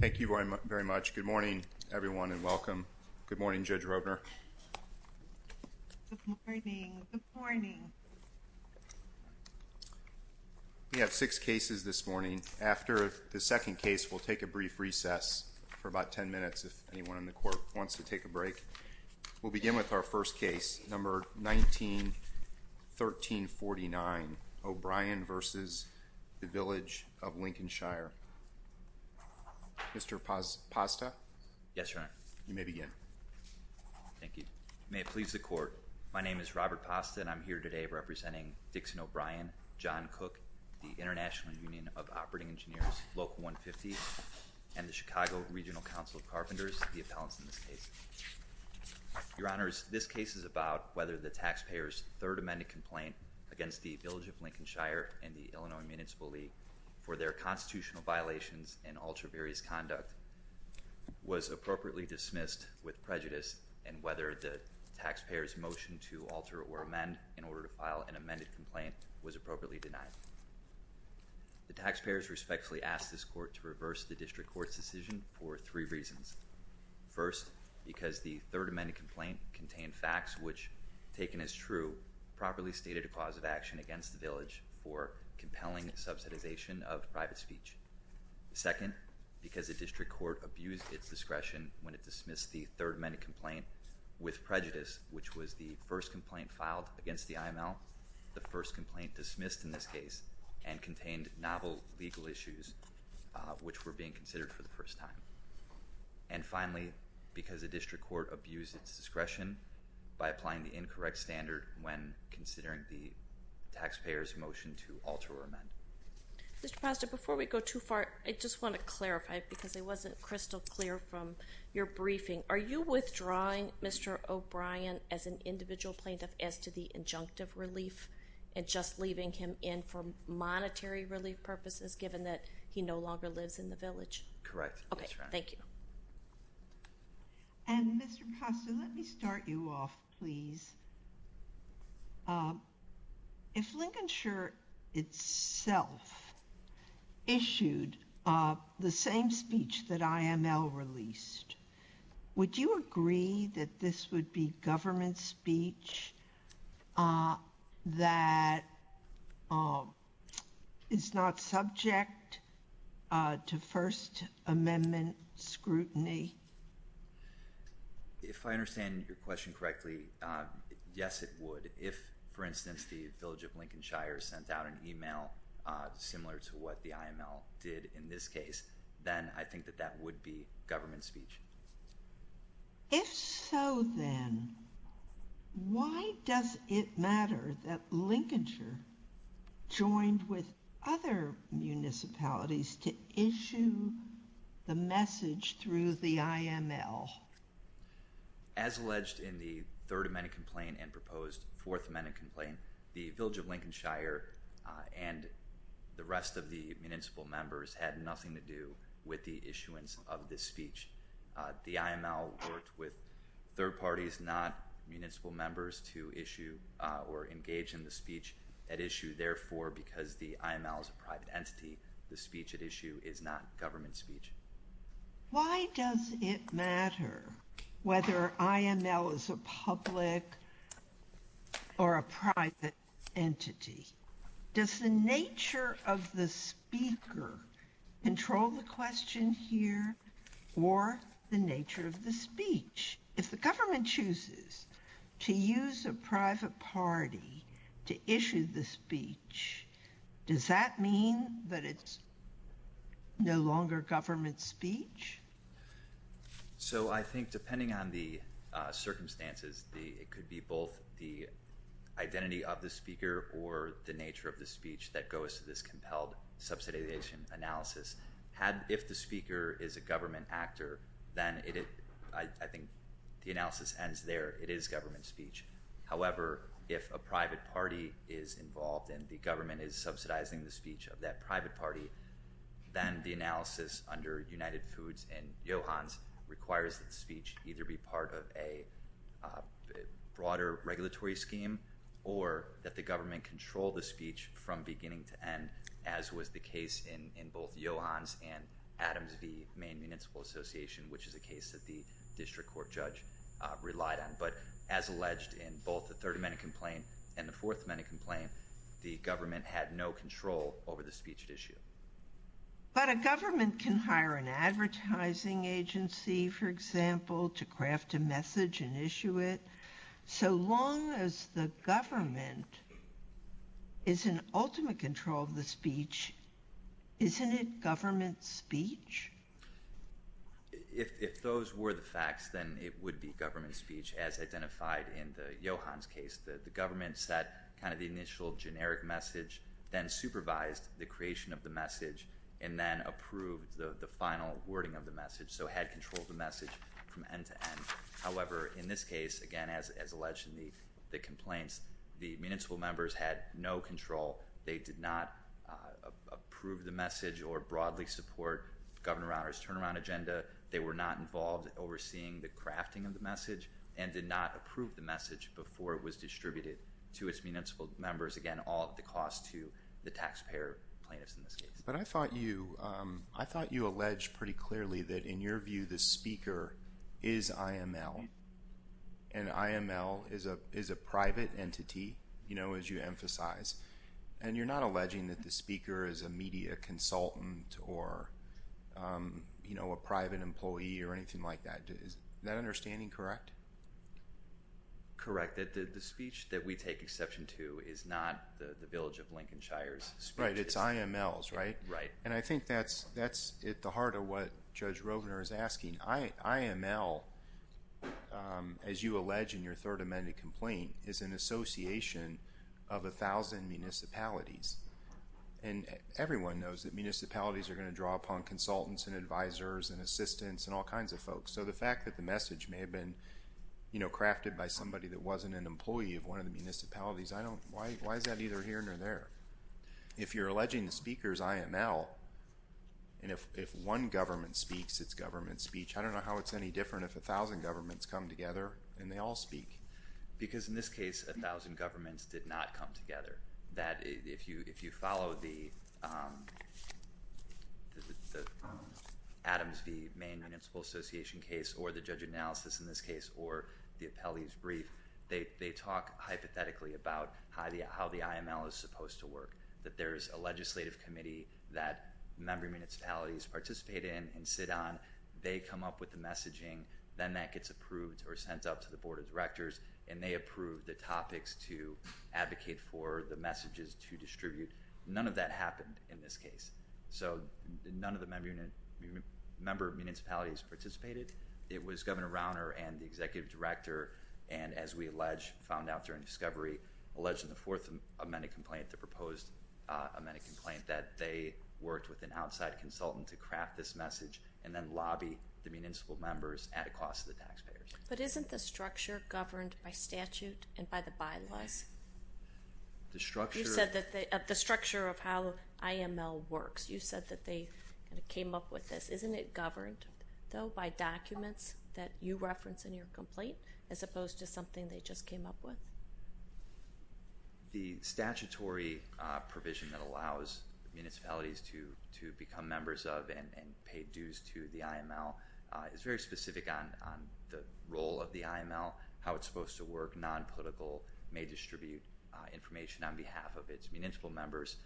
Thank you very much. Good morning, everyone, and welcome. Good morning, Judge Roedner. Good morning. Good morning. We have six cases this morning. After the second case, we'll take a brief recess for about ten minutes if anyone in the court wants to take a break. We'll begin with our first case, number 19-1349, O'Brien v. Village of Lincolnshire. Mr. Pazda? Yes, Your Honor. You may begin. Thank you. May it please the court, my name is Robert Pazda, and I'm here today representing Dixon O'Brien, John Cook, the International Union of Operating Engineers, Local 150, and the Chicago Regional Council of Carpenters, the appellants in this case. Your Honors, this case is about whether the taxpayer's third amended complaint against the Village of Lincolnshire and the Illinois Municipal League for their constitutional violations and ultra-various conduct was appropriately dismissed with prejudice, and whether the taxpayer's motion to alter or amend in order to file an amended complaint was appropriately denied. The taxpayers respectfully ask this court to reverse the district court's decision for three reasons. First, because the third amended complaint contained facts which, taken as true, properly stated a cause of action against the Village for compelling subsidization of private speech. Second, because the district court abused its discretion when it dismissed the third amended complaint with prejudice, which was the first complaint filed against the IML, the first complaint dismissed in this case, and contained novel legal issues which were being considered for the first time. And finally, because the district court abused its discretion by applying the incorrect standard when considering the taxpayer's motion to alter or amend. Mr. Pazda, before we go too far, I just want to clarify, because it wasn't crystal clear from your briefing. Are you withdrawing Mr. O'Brien as an individual plaintiff as to the injunctive relief and just leaving him in for monetary relief purposes given that he no longer lives in the Village? Correct. That's right. Okay, thank you. And Mr. Pazda, let me start you off, please. If Lincolnshire itself issued the same speech that IML released, would you agree that this would be government speech that is not subject to First Amendment scrutiny? If I understand your question correctly, yes, it would. If, for instance, the Village of Lincolnshire sent out an email similar to what the IML did in this case, then I think that that would be government speech. If so, then, why does it matter that Lincolnshire joined with other municipalities to issue the message through the IML? As alleged in the Third Amendment complaint and proposed Fourth Amendment complaint, the Village of Lincolnshire and the rest of the municipal members had nothing to do with the issuance of this speech. The IML worked with third parties, not municipal members, to issue or engage in the speech at issue. Therefore, because the IML is a private entity, the speech at issue is not government speech. Why does it matter whether IML is a public or a private entity? Does the nature of the speaker control the question here or the nature of the speech? If the government chooses to use a private party to issue the speech, does that mean that it's no longer government speech? So I think depending on the circumstances, it could be both the identity of the speaker or the nature of the speech that goes to this compelled subsidization analysis. If the speaker is a government actor, then I think the analysis ends there. It is government speech. However, if a private party is involved and the government is subsidizing the speech of that private party, then the analysis under United Foods and Johans requires that the speech either be part of a broader regulatory scheme or that the government control the speech from beginning to end, as was the case in both Johans and Adams v. Maine Municipal Association, which is a case that the district court judge relied on. But as alleged in both the Third Amendment complaint and the Fourth Amendment complaint, the government had no control over the speech at issue. But a government can hire an advertising agency, for example, to craft a message and issue it. So long as the government is in ultimate control of the speech, isn't it government speech? If those were the facts, then it would be government speech, as identified in the Johans case. The government set the initial generic message, then supervised the creation of the message, and then approved the final wording of the message. So it had control of the message from end to end. However, in this case, again, as alleged in the complaints, the municipal members had no control. They did not approve the message or broadly support Governor Rauner's turnaround agenda. They were not involved in overseeing the crafting of the message and did not approve the message before it was distributed to its municipal members. Again, all at the cost to the taxpayer plaintiffs in this case. But I thought you alleged pretty clearly that, in your view, the speaker is IML. And IML is a private entity, as you emphasize. And you're not alleging that the speaker is a media consultant or a private employee or anything like that. Is that understanding correct? Correct. The speech that we take exception to is not the Village of Lincoln Shires speech. Right, it's IML's, right? Right. And I think that's at the heart of what Judge Rovner is asking. IML, as you allege in your third amended complaint, is an association of 1,000 municipalities. And everyone knows that municipalities are going to draw upon consultants and advisors and assistants and all kinds of folks. So the fact that the message may have been crafted by somebody that wasn't an employee of one of the municipalities, why is that either here or there? If you're alleging the speaker is IML, and if one government speaks its government speech, I don't know how it's any different if 1,000 governments come together and they all speak. Because in this case, 1,000 governments did not come together. That if you follow the Adams v. Maine Municipal Association case or the judge analysis in this case or the appellee's brief, they talk hypothetically about how the IML is supposed to work. That there's a legislative committee that member municipalities participate in and sit on. They come up with the messaging. Then that gets approved or sent out to the board of directors. And they approve the topics to advocate for the messages to distribute. None of that happened in this case. So none of the member municipalities participated. It was Governor Rauner and the executive director. And as we found out during discovery, alleged in the fourth amended complaint, the proposed amended complaint, that they worked with an outside consultant to craft this message and then lobby the municipal members at a cost to the taxpayers. But isn't the structure governed by statute and by the bylaws? The structure? You said that the structure of how IML works. You said that they came up with this. Isn't it governed, though, by documents that you reference in your complaint as opposed to something they just came up with? The statutory provision that allows municipalities to become members of and pay dues to the IML is very specific on the role of the IML, how it's supposed to work. Nonpolitical may distribute information on behalf of its municipal members.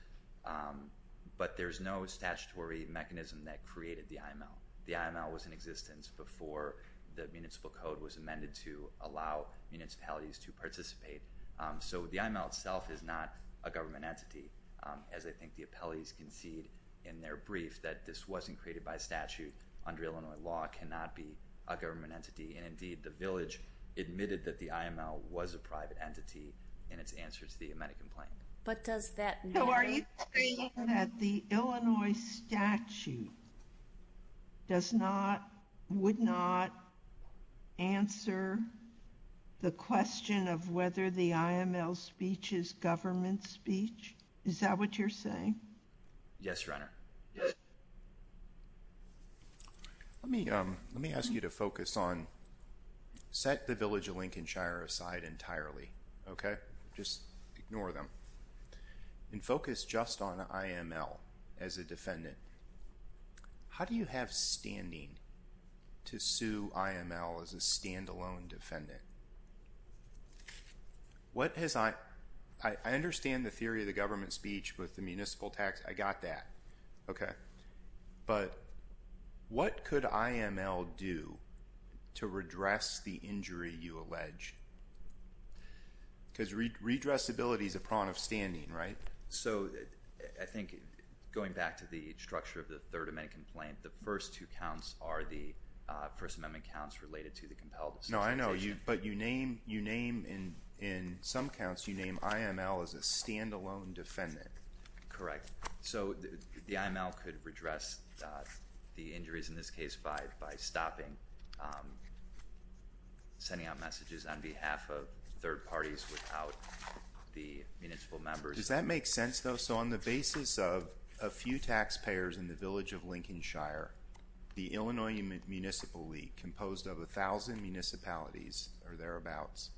But there's no statutory mechanism that created the IML. The IML was in existence before the municipal code was amended to allow municipalities to participate. So the IML itself is not a government entity, as I think the appellees concede in their brief that this wasn't created by statute. Under Illinois law, it cannot be a government entity. And, indeed, the village admitted that the IML was a private entity in its answer to the amended complaint. But does that mean? So are you saying that the Illinois statute does not, would not answer the question of whether the IML speech is government speech? Is that what you're saying? Yes, Your Honor. Let me ask you to focus on set the village of Lincolnshire aside entirely, okay? Just ignore them. And focus just on IML as a defendant. How do you have standing to sue IML as a standalone defendant? What has I, I understand the theory of the government speech with the municipal tax. I got that. Okay. Because redressability is a prong of standing, right? So I think going back to the structure of the Third Amendment complaint, the first two counts are the First Amendment counts related to the compelled disqualification. No, I know. But you name, you name in some counts, you name IML as a standalone defendant. Correct. So the IML could redress the injuries in this case by stopping sending out messages on behalf of third parties without the municipal members. Does that make sense though? So on the basis of a few taxpayers in the village of Lincolnshire, the Illinois Municipal League composed of 1,000 municipalities or thereabouts,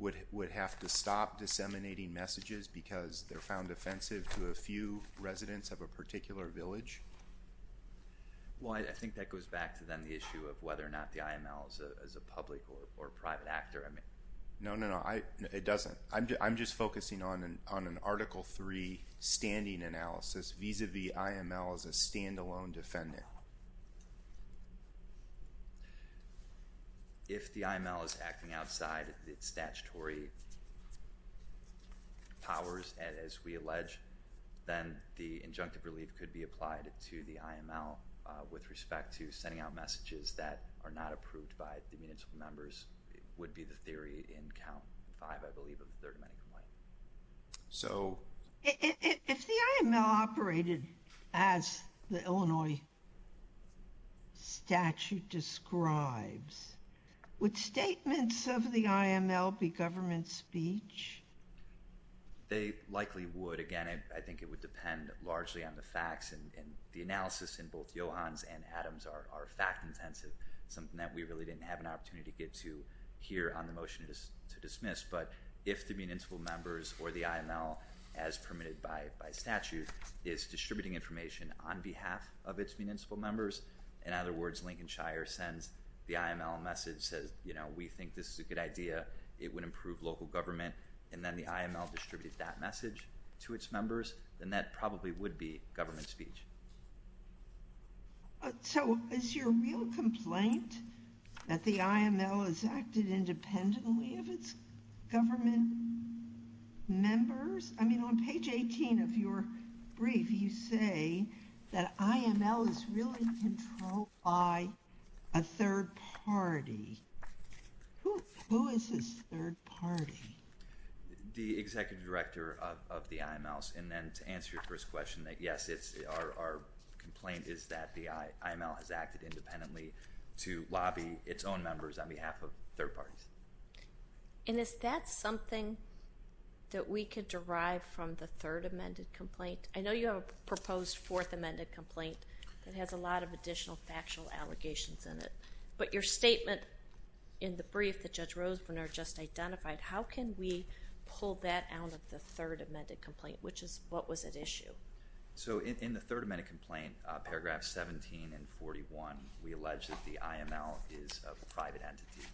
would have to stop disseminating messages because they're found offensive to a few residents of a particular village? Well, I think that goes back to then the issue of whether or not the IML is a public or private actor. No, no, no. It doesn't. I'm just focusing on an Article III standing analysis vis-à-vis IML as a standalone defendant. If the IML is acting outside its statutory powers, as we allege, then the injunctive relief could be applied to the IML with respect to sending out messages that are not approved by the municipal members would be the theory in Count 5, I believe, of the Third Amendment. If the IML operated as the Illinois statute describes, would statements of the IML be government speech? They likely would. Again, I think it would depend largely on the facts and the analysis in both Johann's and Adam's are fact-intensive, something that we really didn't have an opportunity to get to here on the motion to dismiss. But if the municipal members or the IML, as permitted by statute, is distributing information on behalf of its municipal members, in other words, Lincoln Shire sends the IML a message, says, you know, we think this is a good idea, it would improve local government, and then the IML distributes that message to its members, then that probably would be government speech. So is your real complaint that the IML has acted independently of its government members? I mean, on page 18 of your brief, you say that IML is really controlled by a third party. Who is this third party? The executive director of the IML. And then to answer your first question, yes, our complaint is that the IML has acted independently to lobby its own members on behalf of third parties. And is that something that we could derive from the Third Amendment complaint? I know you have a proposed Fourth Amendment complaint that has a lot of additional factual allegations in it. But your statement in the brief that Judge Rosenbrenner just identified, how can we pull that out of the Third Amendment complaint? What was at issue? So in the Third Amendment complaint, paragraphs 17 and 41, we allege that the IML is a private entity.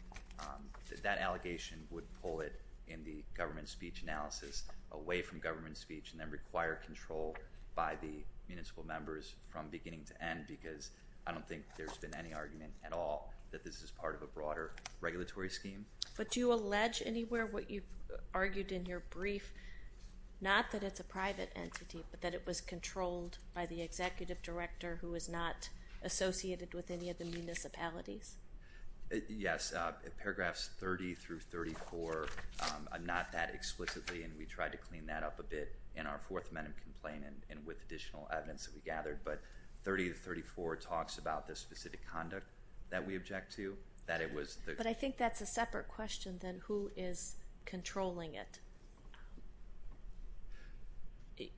That allegation would pull it, in the government speech analysis, away from government speech and then require control by the municipal members from beginning to end, because I don't think there's been any argument at all that this is part of a broader regulatory scheme. But do you allege anywhere what you've argued in your brief, not that it's a private entity, but that it was controlled by the executive director who is not associated with any of the municipalities? Yes. Paragraphs 30 through 34, not that explicitly. And we tried to clean that up a bit in our Fourth Amendment complaint and with additional evidence that we gathered. But 30 to 34 talks about the specific conduct that we object to. But I think that's a separate question than who is controlling it.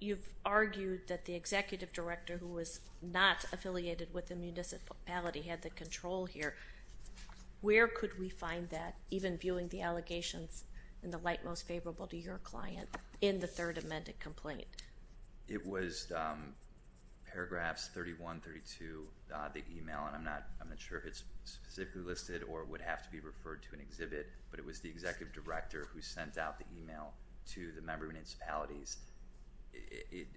You've argued that the executive director who was not affiliated with the municipality had the control here. Where could we find that, even viewing the allegations in the light most favorable to your client in the Third Amendment complaint? It was paragraphs 31, 32, the email, and I'm not sure if it's specifically listed or would have to be referred to an exhibit, but it was the executive director who sent out the email to the member municipalities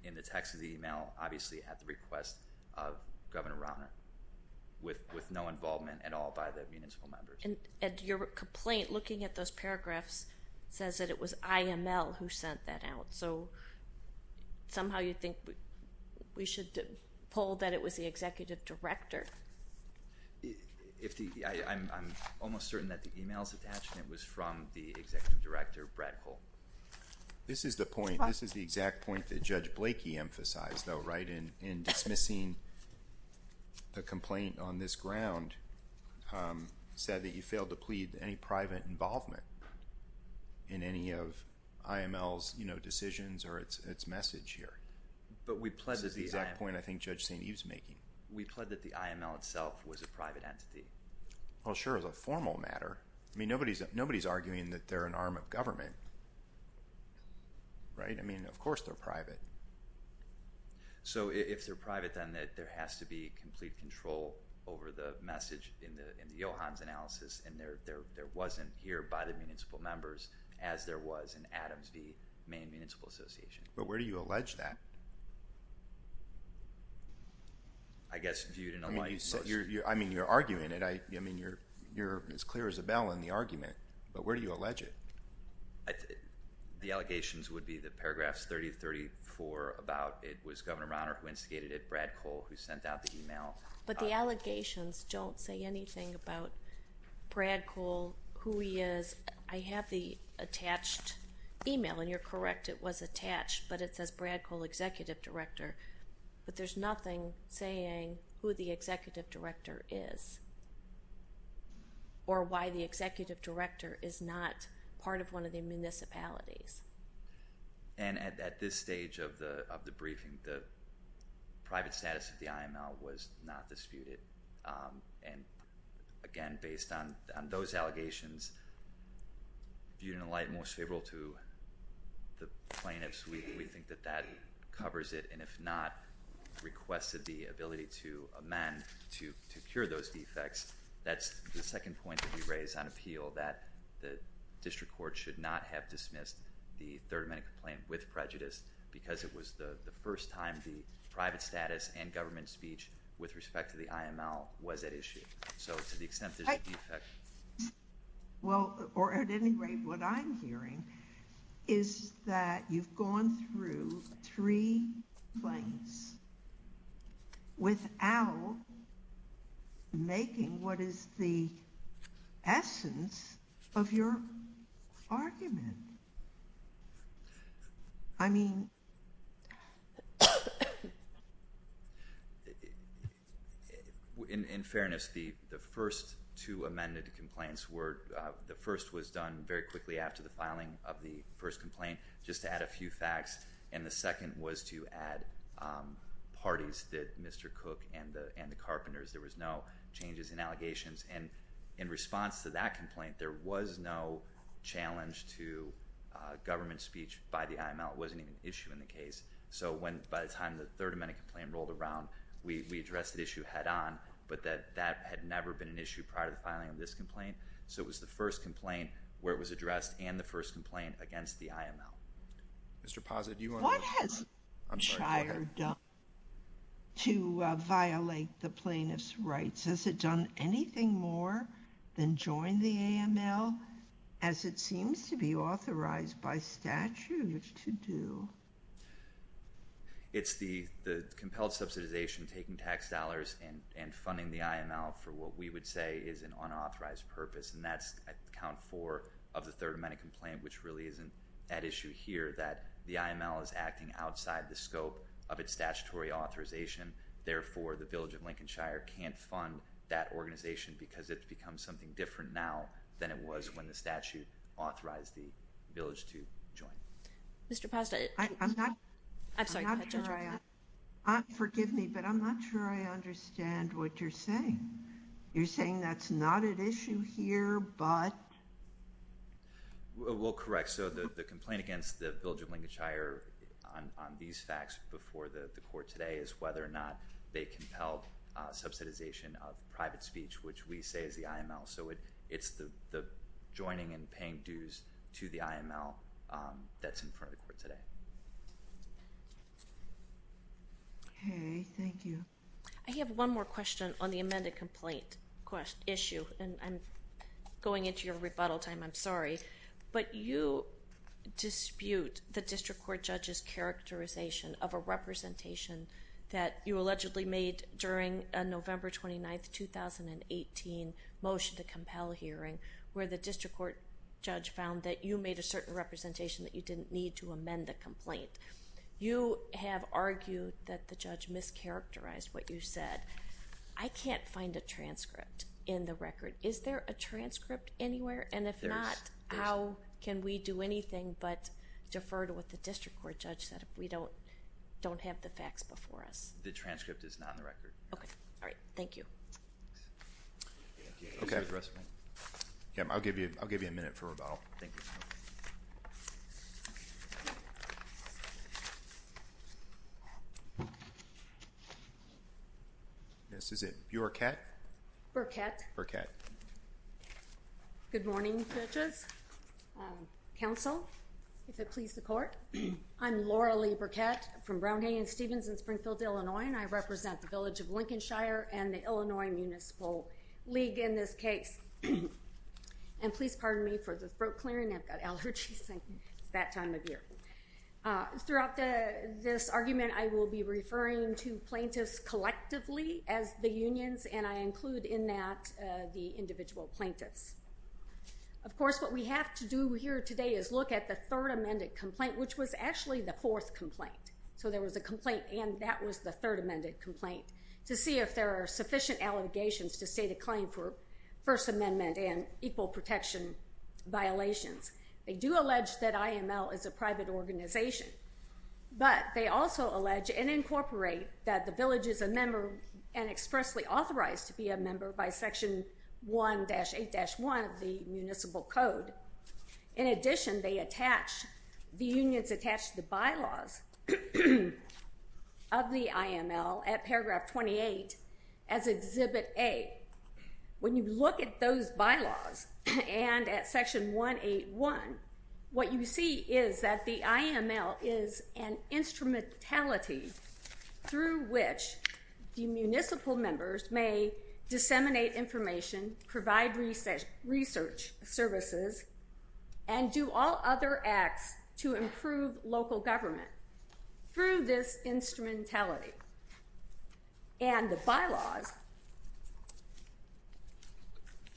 in the text of the email, obviously at the request of Governor Rauner, with no involvement at all by the municipal members. And your complaint, looking at those paragraphs, says that it was IML who sent that out. So somehow you think we should pull that it was the executive director? I'm almost certain that the email's attached, and it was from the executive director, Brad Cole. This is the point. This is the exact point that Judge Blakey emphasized, though, right, in dismissing the complaint on this ground, said that you failed to plead any private involvement in any of IML's decisions or its message here. But we pled that the IML- This is the exact point I think Judge St. Eve's making. We pled that the IML itself was a private entity. Well, sure, as a formal matter. I mean, nobody's arguing that they're an arm of government, right? I mean, of course they're private. So if they're private, then there has to be complete control over the message in the Johans analysis, and there wasn't here by the municipal members as there was in Adams v. Maine Municipal Association. But where do you allege that? I guess viewed in a light- I mean, you're arguing it. I mean, you're as clear as a bell in the argument, but where do you allege it? The allegations would be the paragraphs 30 and 34 about it was Governor Rauner who instigated it, Brad Cole who sent out the email. But the allegations don't say anything about Brad Cole, who he is. I have the attached email, and you're correct. It was attached, but it says Brad Cole, Executive Director. But there's nothing saying who the Executive Director is or why the Executive Director is not part of one of the municipalities. And at this stage of the briefing, the private status of the IML was not disputed. And again, based on those allegations, viewed in a light most favorable to the plaintiffs, we think that that covers it, and if not, requested the ability to amend to cure those defects. That's the second point that you raised on appeal, that the district court should not have dismissed the third amendment complaint with prejudice because it was the first time the private status and government speech with respect to the IML was at issue. So to the extent there's a defect. Well, or at any rate, what I'm hearing is that you've gone through three plaintiffs without making what is the essence of your argument. I mean... In fairness, the first two amended complaints were, the first was done very quickly after the filing of the first complaint just to add a few facts, and the second was to add parties that Mr. Cook and the Carpenters. There was no changes in allegations, and in response to that complaint, there was no challenge to government speech by the IML. It wasn't even an issue in the case. So by the time the third amendment complaint rolled around, we addressed the issue head-on, but that had never been an issue prior to the filing of this complaint, so it was the first complaint where it was addressed and the first complaint against the IML. Mr. Pazit, do you want to... What has the district court done to violate the plaintiff's rights? Has it done anything more than join the IML, as it seems to be authorized by statute to do? It's the compelled subsidization, taking tax dollars and funding the IML for what we would say is an unauthorized purpose, and that's at count four of the third amendment complaint, which really isn't at issue here, that the IML is acting outside the scope of its statutory authorization. Therefore, the Village of Lincoln Shire can't fund that organization because it's become something different now than it was when the statute authorized the village to join. Mr. Pazit, I'm sorry. Go ahead, Judge. Forgive me, but I'm not sure I understand what you're saying. You're saying that's not at issue here, but... Well, correct. So the complaint against the Village of Lincoln Shire on these facts before the court today is whether or not they compelled subsidization of private speech, which we say is the IML. So it's the joining and paying dues to the IML that's in front of the court today. Okay. Thank you. I have one more question on the amended complaint issue, and I'm going into your rebuttal time. I'm sorry, but you dispute the district court judge's characterization of a representation that you allegedly made during a November 29, 2018 motion to compel hearing where the district court judge found that you made a certain representation that you didn't need to amend the complaint. You have argued that the judge mischaracterized what you said. I can't find a transcript in the record. Is there a transcript anywhere? And if not, how can we do anything but defer to what the district court judge said if we don't have the facts before us? The transcript is not in the record. Okay. All right. Thank you. Okay. I'll give you a minute for rebuttal. Thank you. This is it. Burekett? Burekett. Burekett. Good morning judges, counsel, if it please the court. I'm Laura Lee Burekett from Brown, Hay, and Stevens in Springfield, Illinois, and I represent the village of Lincolnshire and the Illinois Municipal League in this case. And please pardon me for the throat clearing. I've got allergies since that time of year. Throughout this argument, I will be referring to plaintiffs collectively as the unions, and I include in that the individual plaintiffs. Of course, what we have to do here today is look at the third amended complaint, which was actually the fourth complaint. So there was a complaint, and that was the third amended complaint, to see if there are sufficient allegations to state a claim for First Amendment and equal protection violations. They do allege that IML is a private organization, but they also allege and incorporate that the village is a member and expressly authorized to be a member by Section 1-8-1 of the municipal code. In addition, the unions attach the bylaws of the IML at paragraph 28 as Exhibit A. When you look at those bylaws and at Section 1-8-1, what you see is that the IML is an instrumentality through which the municipal members may disseminate information, provide research services, and do all other acts to improve local government through this instrumentality. And the bylaws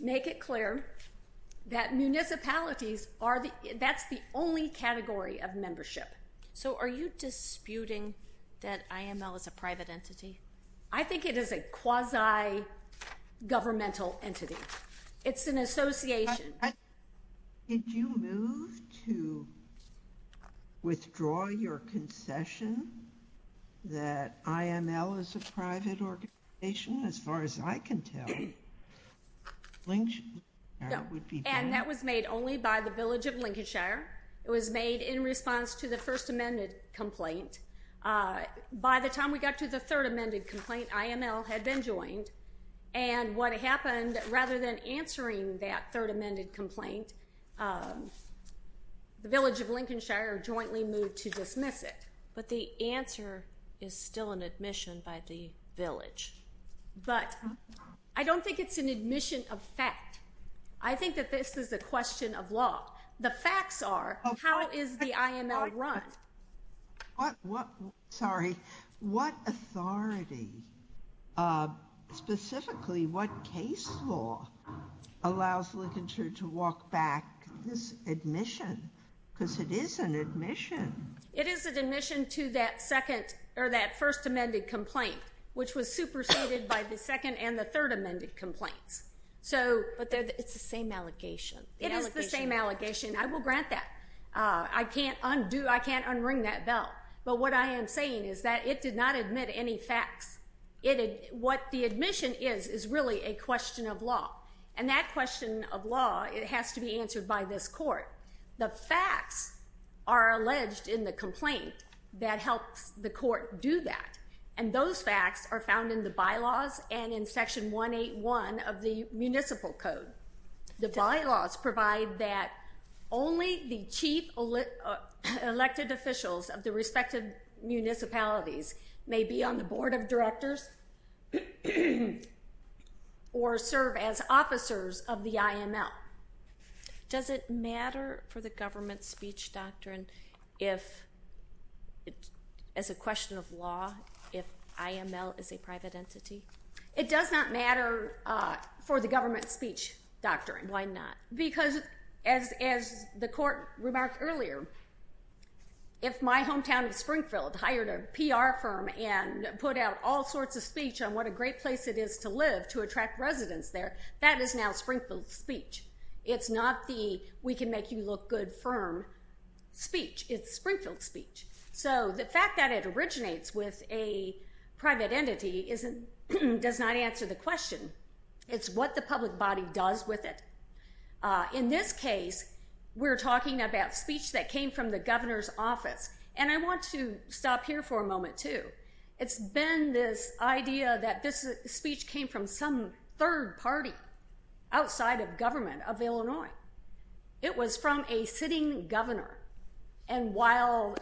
make it clear that municipalities are the only category of membership. So are you disputing that IML is a private entity? I think it is a quasi-governmental entity. It's an association. Did you move to withdraw your concession that IML is a private organization, as far as I can tell? No, and that was made only by the village of Lincolnshire. It was made in response to the First Amendment complaint. By the time we got to the Third Amendment complaint, IML had been joined. And what happened, rather than answering that Third Amendment complaint, the village of Lincolnshire jointly moved to dismiss it. But the answer is still an admission by the village. But I don't think it's an admission of fact. I think that this is a question of law. The facts are, how is the IML run? Sorry. What authority, specifically what case law, allows Lincolnshire to walk back this admission? Because it is an admission. It is an admission to that First Amendment complaint, which was superseded by the Second and the Third Amendment complaints. But it's the same allegation. It is the same allegation. I will grant that. I can't un-ring that bell. But what I am saying is that it did not admit any facts. What the admission is is really a question of law. And that question of law has to be answered by this court. The facts are alleged in the complaint that helps the court do that. And those facts are found in the bylaws and in Section 181 of the Municipal Code. The bylaws provide that only the chief elected officials of the respective municipalities may be on the Board of Directors or serve as officers of the IML. Does it matter for the government speech doctrine as a question of law if IML is a private entity? It does not matter for the government speech doctrine. Why not? Because as the court remarked earlier, if my hometown of Springfield hired a PR firm and put out all sorts of speech on what a great place it is to live to attract residents there, that is now Springfield speech. It's not the we can make you look good firm speech. It's Springfield speech. So the fact that it originates with a private entity does not answer the question. It's what the public body does with it. In this case, we're talking about speech that came from the governor's office. And I want to stop here for a moment too. It's been this idea that this speech came from some third party outside of government of Illinois. It was from a sitting governor. And while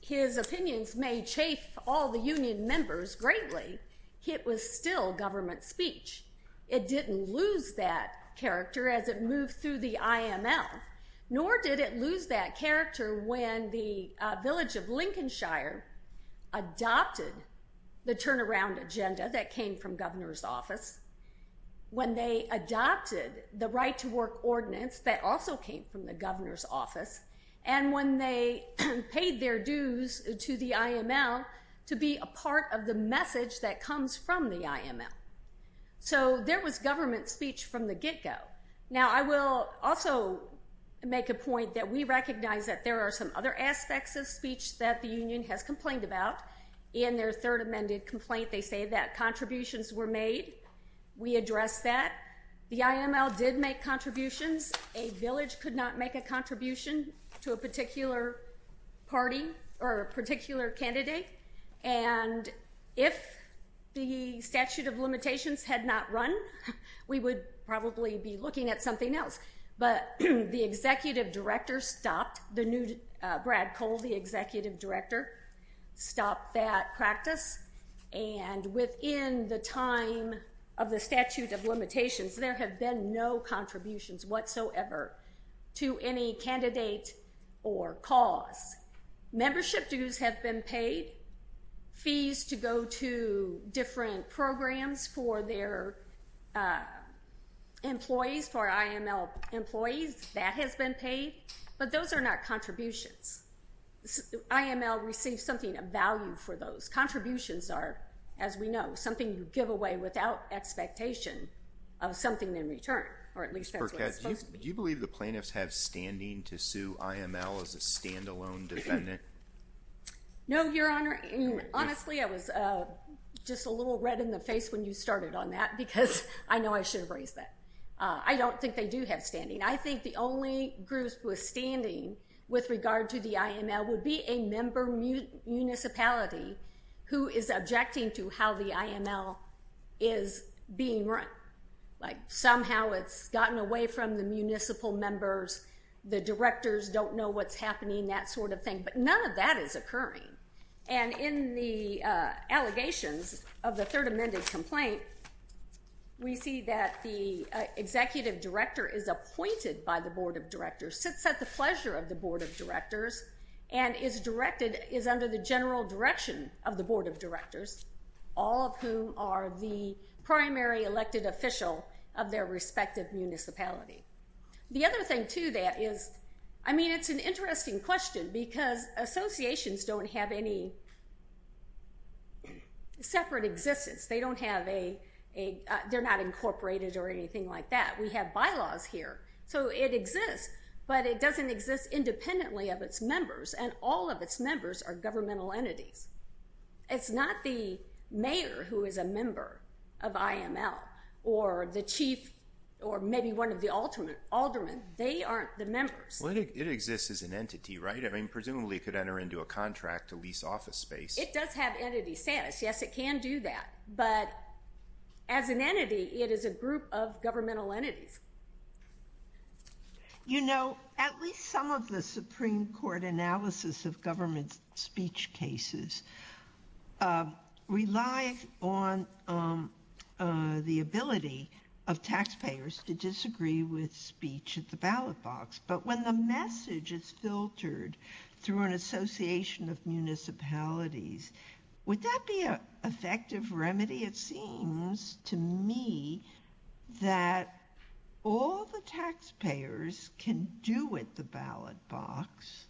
his opinions may chafe all the union members greatly, it was still government speech. It didn't lose that character as it moved through the IML, nor did it lose that character when the village of Lincolnshire adopted the turnaround agenda that came from governor's office. When they adopted the right to work ordinance that also came from the governor's office, and when they paid their dues to the IML to be a part of the message that comes from the IML. So there was government speech from the get-go. Now, I will also make a point that we recognize that there are some other aspects of speech that the union has complained about. In their third amended complaint, they say that contributions were made. We addressed that. The IML did make contributions. A village could not make a contribution to a particular party or a particular candidate. And if the statute of limitations had not run, we would probably be looking at something else. But the executive director stopped. The new Brad Cole, the executive director, stopped that practice. And within the time of the statute of limitations, there have been no contributions whatsoever to any candidate or cause. Membership dues have been paid. Fees to go to different programs for their employees, for IML employees, that has been paid. But those are not contributions. IML receives something of value for those. Contributions are, as we know, something you give away without expectation of something in return, or at least that's what it's supposed to be. Ms. Burkett, do you believe the plaintiffs have standing to sue IML as a standalone defendant? No, Your Honor. Honestly, I was just a little red in the face when you started on that because I know I should have raised that. I don't think they do have standing. I think the only group who is standing with regard to the IML would be a member municipality who is objecting to how the IML is being run. Like somehow it's gotten away from the municipal members, the directors don't know what's happening, that sort of thing. But none of that is occurring. And in the allegations of the third amended complaint, we see that the executive director is appointed by the board of directors, sits at the pleasure of the board of directors, and is under the general direction of the board of directors, all of whom are the primary elected official of their respective municipality. The other thing to that is, I mean, it's an interesting question because associations don't have any separate existence. They don't have a they're not incorporated or anything like that. We have bylaws here. So it exists, but it doesn't exist independently of its members, and all of its members are governmental entities. It's not the mayor who is a member of IML or the chief or maybe one of the aldermen. They aren't the members. It exists as an entity, right? I mean, presumably it could enter into a contract, a lease office space. It does have entity status. Yes, it can do that. But as an entity, it is a group of governmental entities. You know, at least some of the Supreme Court analysis of government speech cases rely on the ability of taxpayers to disagree with speech at the ballot box. But when the message is filtered through an association of municipalities, would that be an effective remedy? It seems to me that all the taxpayers can do at the ballot box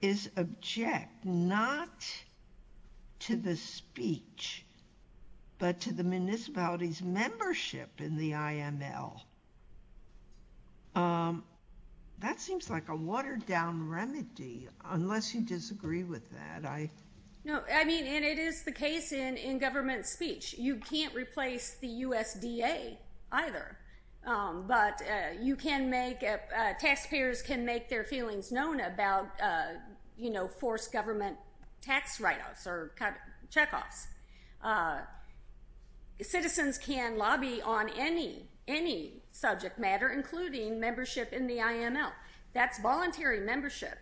is object not to the speech, but to the municipality's membership in the IML. That seems like a watered-down remedy, unless you disagree with that. No, I mean, and it is the case in government speech. You can't replace the USDA either, but taxpayers can make their feelings known about, you know, forced government tax write-offs or check-offs. Citizens can lobby on any subject matter, including membership in the IML. That's voluntary membership.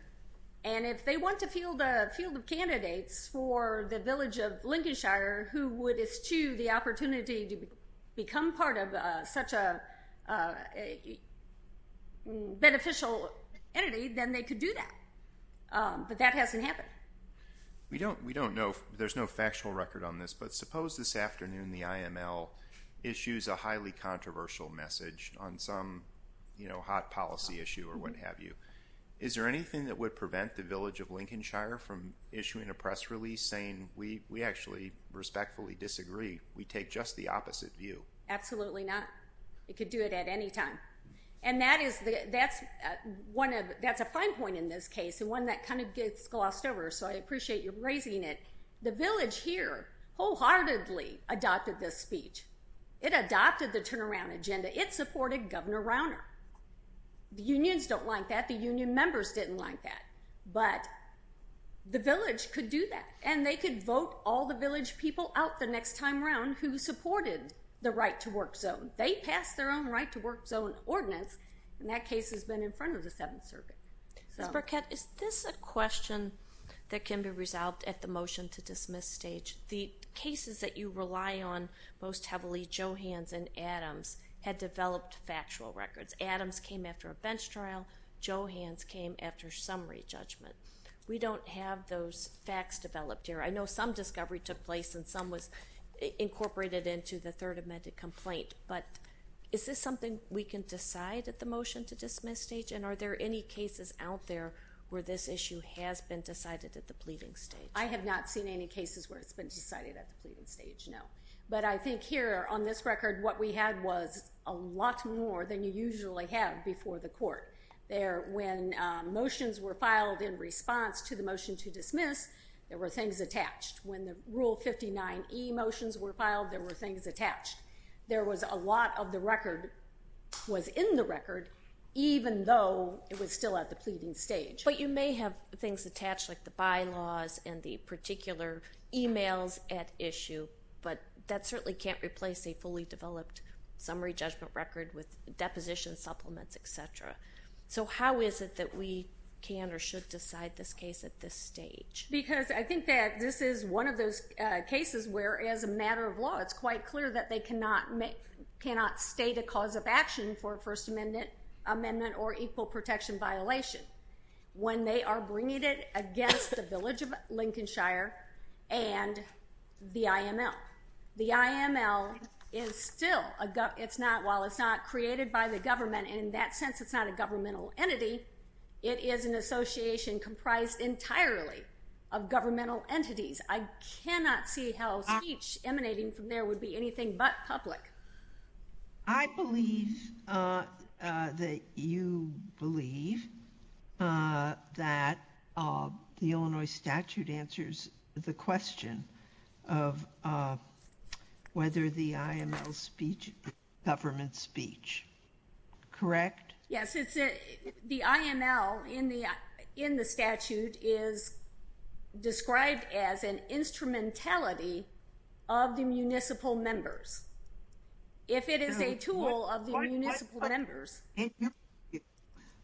And if they want to field candidates for the village of Lincolnshire, who would eschew the opportunity to become part of such a beneficial entity, then they could do that. But that hasn't happened. We don't know. There's no factual record on this, but suppose this afternoon the IML issues a highly controversial message on some, you know, hot policy issue or what have you. Is there anything that would prevent the village of Lincolnshire from issuing a press release saying, we actually respectfully disagree, we take just the opposite view? Absolutely not. It could do it at any time. And that's a fine point in this case and one that kind of gets glossed over, so I appreciate you raising it. The village here wholeheartedly adopted this speech. It adopted the turnaround agenda. It supported Governor Rauner. The unions don't like that. The union members didn't like that. But the village could do that, and they could vote all the village people out the next time around who supported the right-to-work zone. They passed their own right-to-work zone ordinance, and that case has been in front of the Seventh Circuit. Ms. Burkett, is this a question that can be resolved at the motion-to-dismiss stage? The cases that you rely on most heavily, Johans and Adams, had developed factual records. Adams came after a bench trial. Johans came after summary judgment. We don't have those facts developed here. I know some discovery took place and some was incorporated into the Third Amendment complaint. But is this something we can decide at the motion-to-dismiss stage? And are there any cases out there where this issue has been decided at the pleading stage? I have not seen any cases where it's been decided at the pleading stage, no. But I think here on this record, what we had was a lot more than you usually have before the court. When motions were filed in response to the motion-to-dismiss, there were things attached. When the Rule 59E motions were filed, there were things attached. There was a lot of the record was in the record, even though it was still at the pleading stage. But you may have things attached, like the bylaws and the particular emails at issue, but that certainly can't replace a fully developed summary judgment record with depositions, supplements, et cetera. So how is it that we can or should decide this case at this stage? Because I think that this is one of those cases where, as a matter of law, it's quite clear that they cannot state a cause of action for a First Amendment or equal protection violation. When they are bringing it against the village of Lincolnshire and the IML. The IML is still a government. While it's not created by the government, in that sense it's not a governmental entity, it is an association comprised entirely of governmental entities. I cannot see how speech emanating from there would be anything but public. I believe that you believe that the Illinois statute answers the question of whether the IML speech is a government speech. Correct? Yes, the IML in the statute is described as an instrumentality of the municipal members. If it is a tool of the municipal members.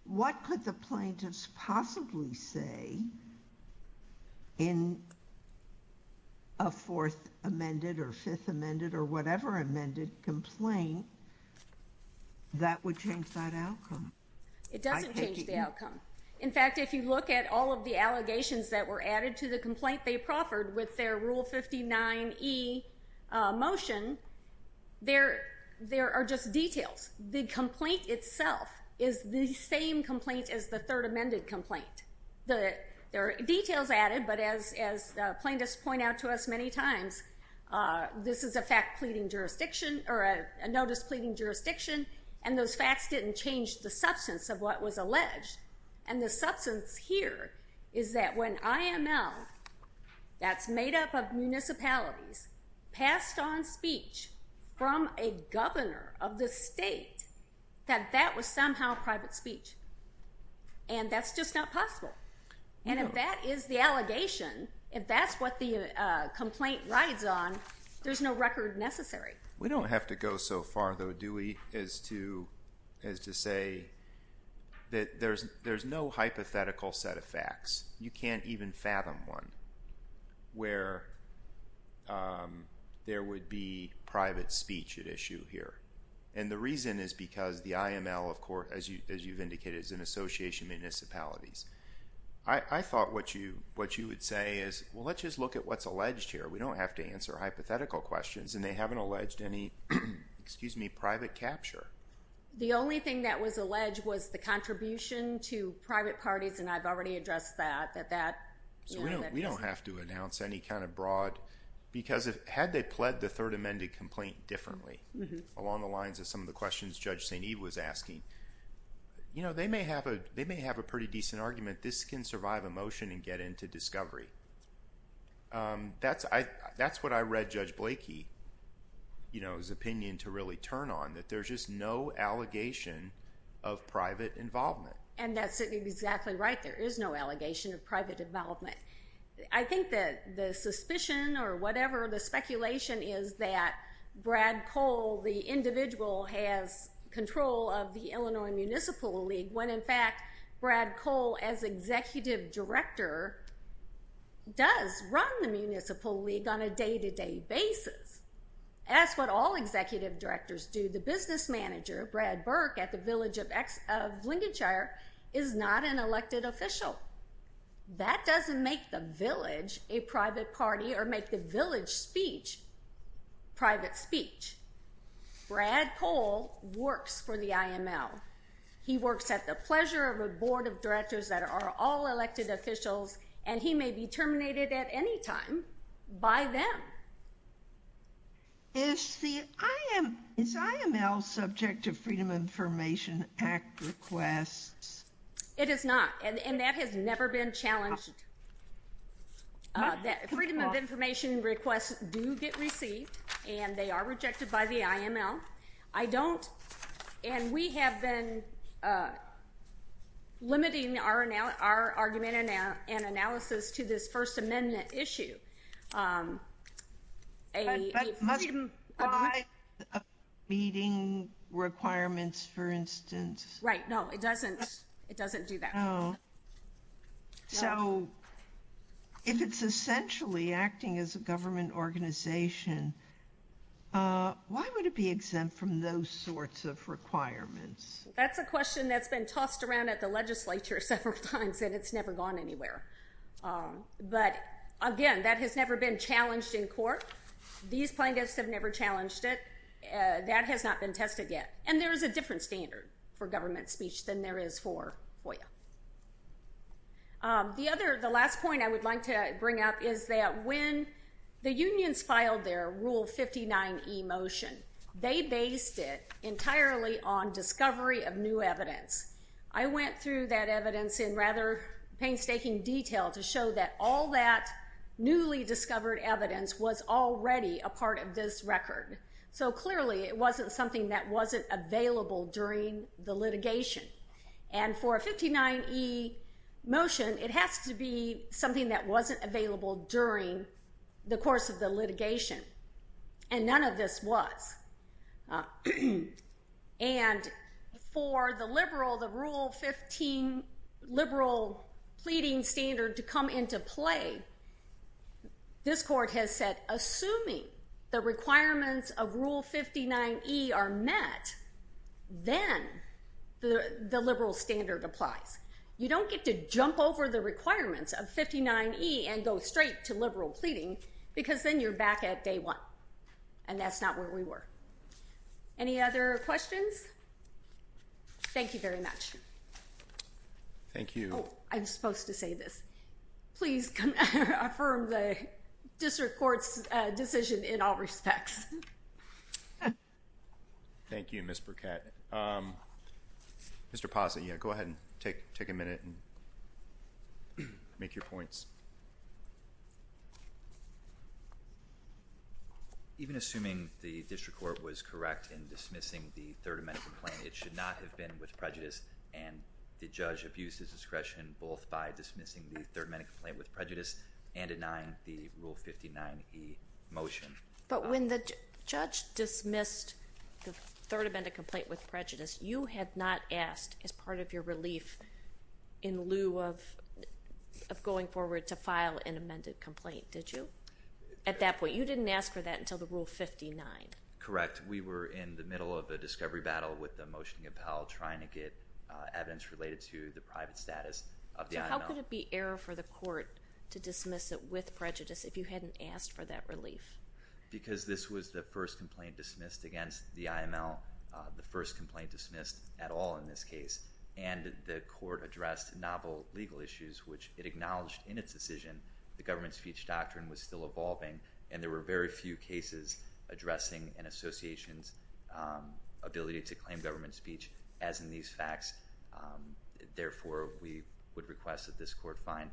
What could the plaintiffs possibly say in a Fourth Amended or Fifth Amended or whatever amended complaint that would change that outcome? It doesn't change the outcome. In fact, if you look at all of the allegations that were added to the complaint they proffered with their Rule 59E motion, there are just details. The complaint itself is the same complaint as the Third Amended complaint. There are details added, but as the plaintiffs point out to us many times, this is a notice pleading jurisdiction, and those facts didn't change the substance of what was alleged. The substance here is that when IML, that's made up of municipalities, passed on speech from a governor of the state, that that was somehow private speech, and that's just not possible. If that is the allegation, if that's what the complaint rides on, there's no record necessary. We don't have to go so far, though, do we, as to say that there's no hypothetical set of facts. You can't even fathom one where there would be private speech at issue here, and the reason is because the IML, of course, as you've indicated, is an association of municipalities. I thought what you would say is, well, let's just look at what's alleged here. We don't have to answer hypothetical questions, and they haven't alleged any private capture. The only thing that was alleged was the contribution to private parties, and I've already addressed that. We don't have to announce any kind of broad, because had they pled the Third Amendment complaint differently, along the lines of some of the questions Judge St. Eve was asking, they may have a pretty decent argument. This can survive a motion and get into discovery. That's what I read Judge Blakey's opinion to really turn on, that there's just no allegation of private involvement. And that's exactly right. There is no allegation of private involvement. I think that the suspicion or whatever the speculation is that Brad Cole, the individual, has control of the Illinois Municipal League, when, in fact, Brad Cole, as executive director, does run the Municipal League on a day-to-day basis. That's what all executive directors do. The business manager, Brad Burke, at the Village of Lindenshire, is not an elected official. That doesn't make the village a private party or make the village speech private speech. Brad Cole works for the IML. He works at the pleasure of a board of directors that are all elected officials, and he may be terminated at any time by them. Is the IML subject to Freedom of Information Act requests? It is not, and that has never been challenged. Freedom of Information requests do get received, and they are rejected by the IML. I don't, and we have been limiting our argument and analysis to this First Amendment issue. But must it comply with meeting requirements, for instance? Right. No, it doesn't do that. So if it's essentially acting as a government organization, why would it be exempt from those sorts of requirements? That's a question that's been tossed around at the legislature several times, and it's never gone anywhere. But, again, that has never been challenged in court. These plaintiffs have never challenged it. That has not been tested yet. And there is a different standard for government speech than there is for FOIA. The last point I would like to bring up is that when the unions filed their Rule 59e motion, they based it entirely on discovery of new evidence. I went through that evidence in rather painstaking detail to show that all that newly discovered evidence was already a part of this record. And for a 59e motion, it has to be something that wasn't available during the course of the litigation. And none of this was. And for the liberal, the Rule 15 liberal pleading standard to come into play, this court has said, assuming the requirements of Rule 59e are met, then the liberal standard applies. You don't get to jump over the requirements of 59e and go straight to liberal pleading because then you're back at day one, and that's not where we were. Any other questions? Thank you very much. Thank you. Oh, I was supposed to say this. Please affirm the district court's decision in all respects. Thank you, Ms. Burkett. Mr. Pazza, go ahead and take a minute and make your points. Even assuming the district court was correct in dismissing the Third Amendment complaint, it should not have been with prejudice, and the judge abused his discretion both by dismissing the Third Amendment complaint with prejudice and denying the Rule 59e motion. But when the judge dismissed the Third Amendment complaint with prejudice, you had not asked as part of your relief in lieu of going forward to file an amended complaint, did you? At that point. You didn't ask for that until the Rule 59. Correct. We were in the middle of a discovery battle with the motion to compel, trying to get evidence related to the private status of the IML. So how could it be error for the court to dismiss it with prejudice if you hadn't asked for that relief? Because this was the first complaint dismissed against the IML, the first complaint dismissed at all in this case, and the court addressed novel legal issues, which it acknowledged in its decision the government speech doctrine was still evolving, and there were very few cases addressing an association's ability to claim government speech as in these facts. Therefore, we would request that this court find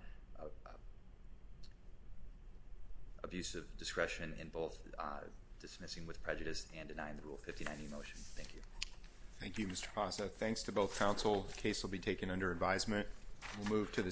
abusive discretion in both dismissing with prejudice and denying the Rule 59e motion. Thank you. Thank you, Mr. Fasa. Thanks to both counsel. The case will be taken under advisement. We'll move to the second.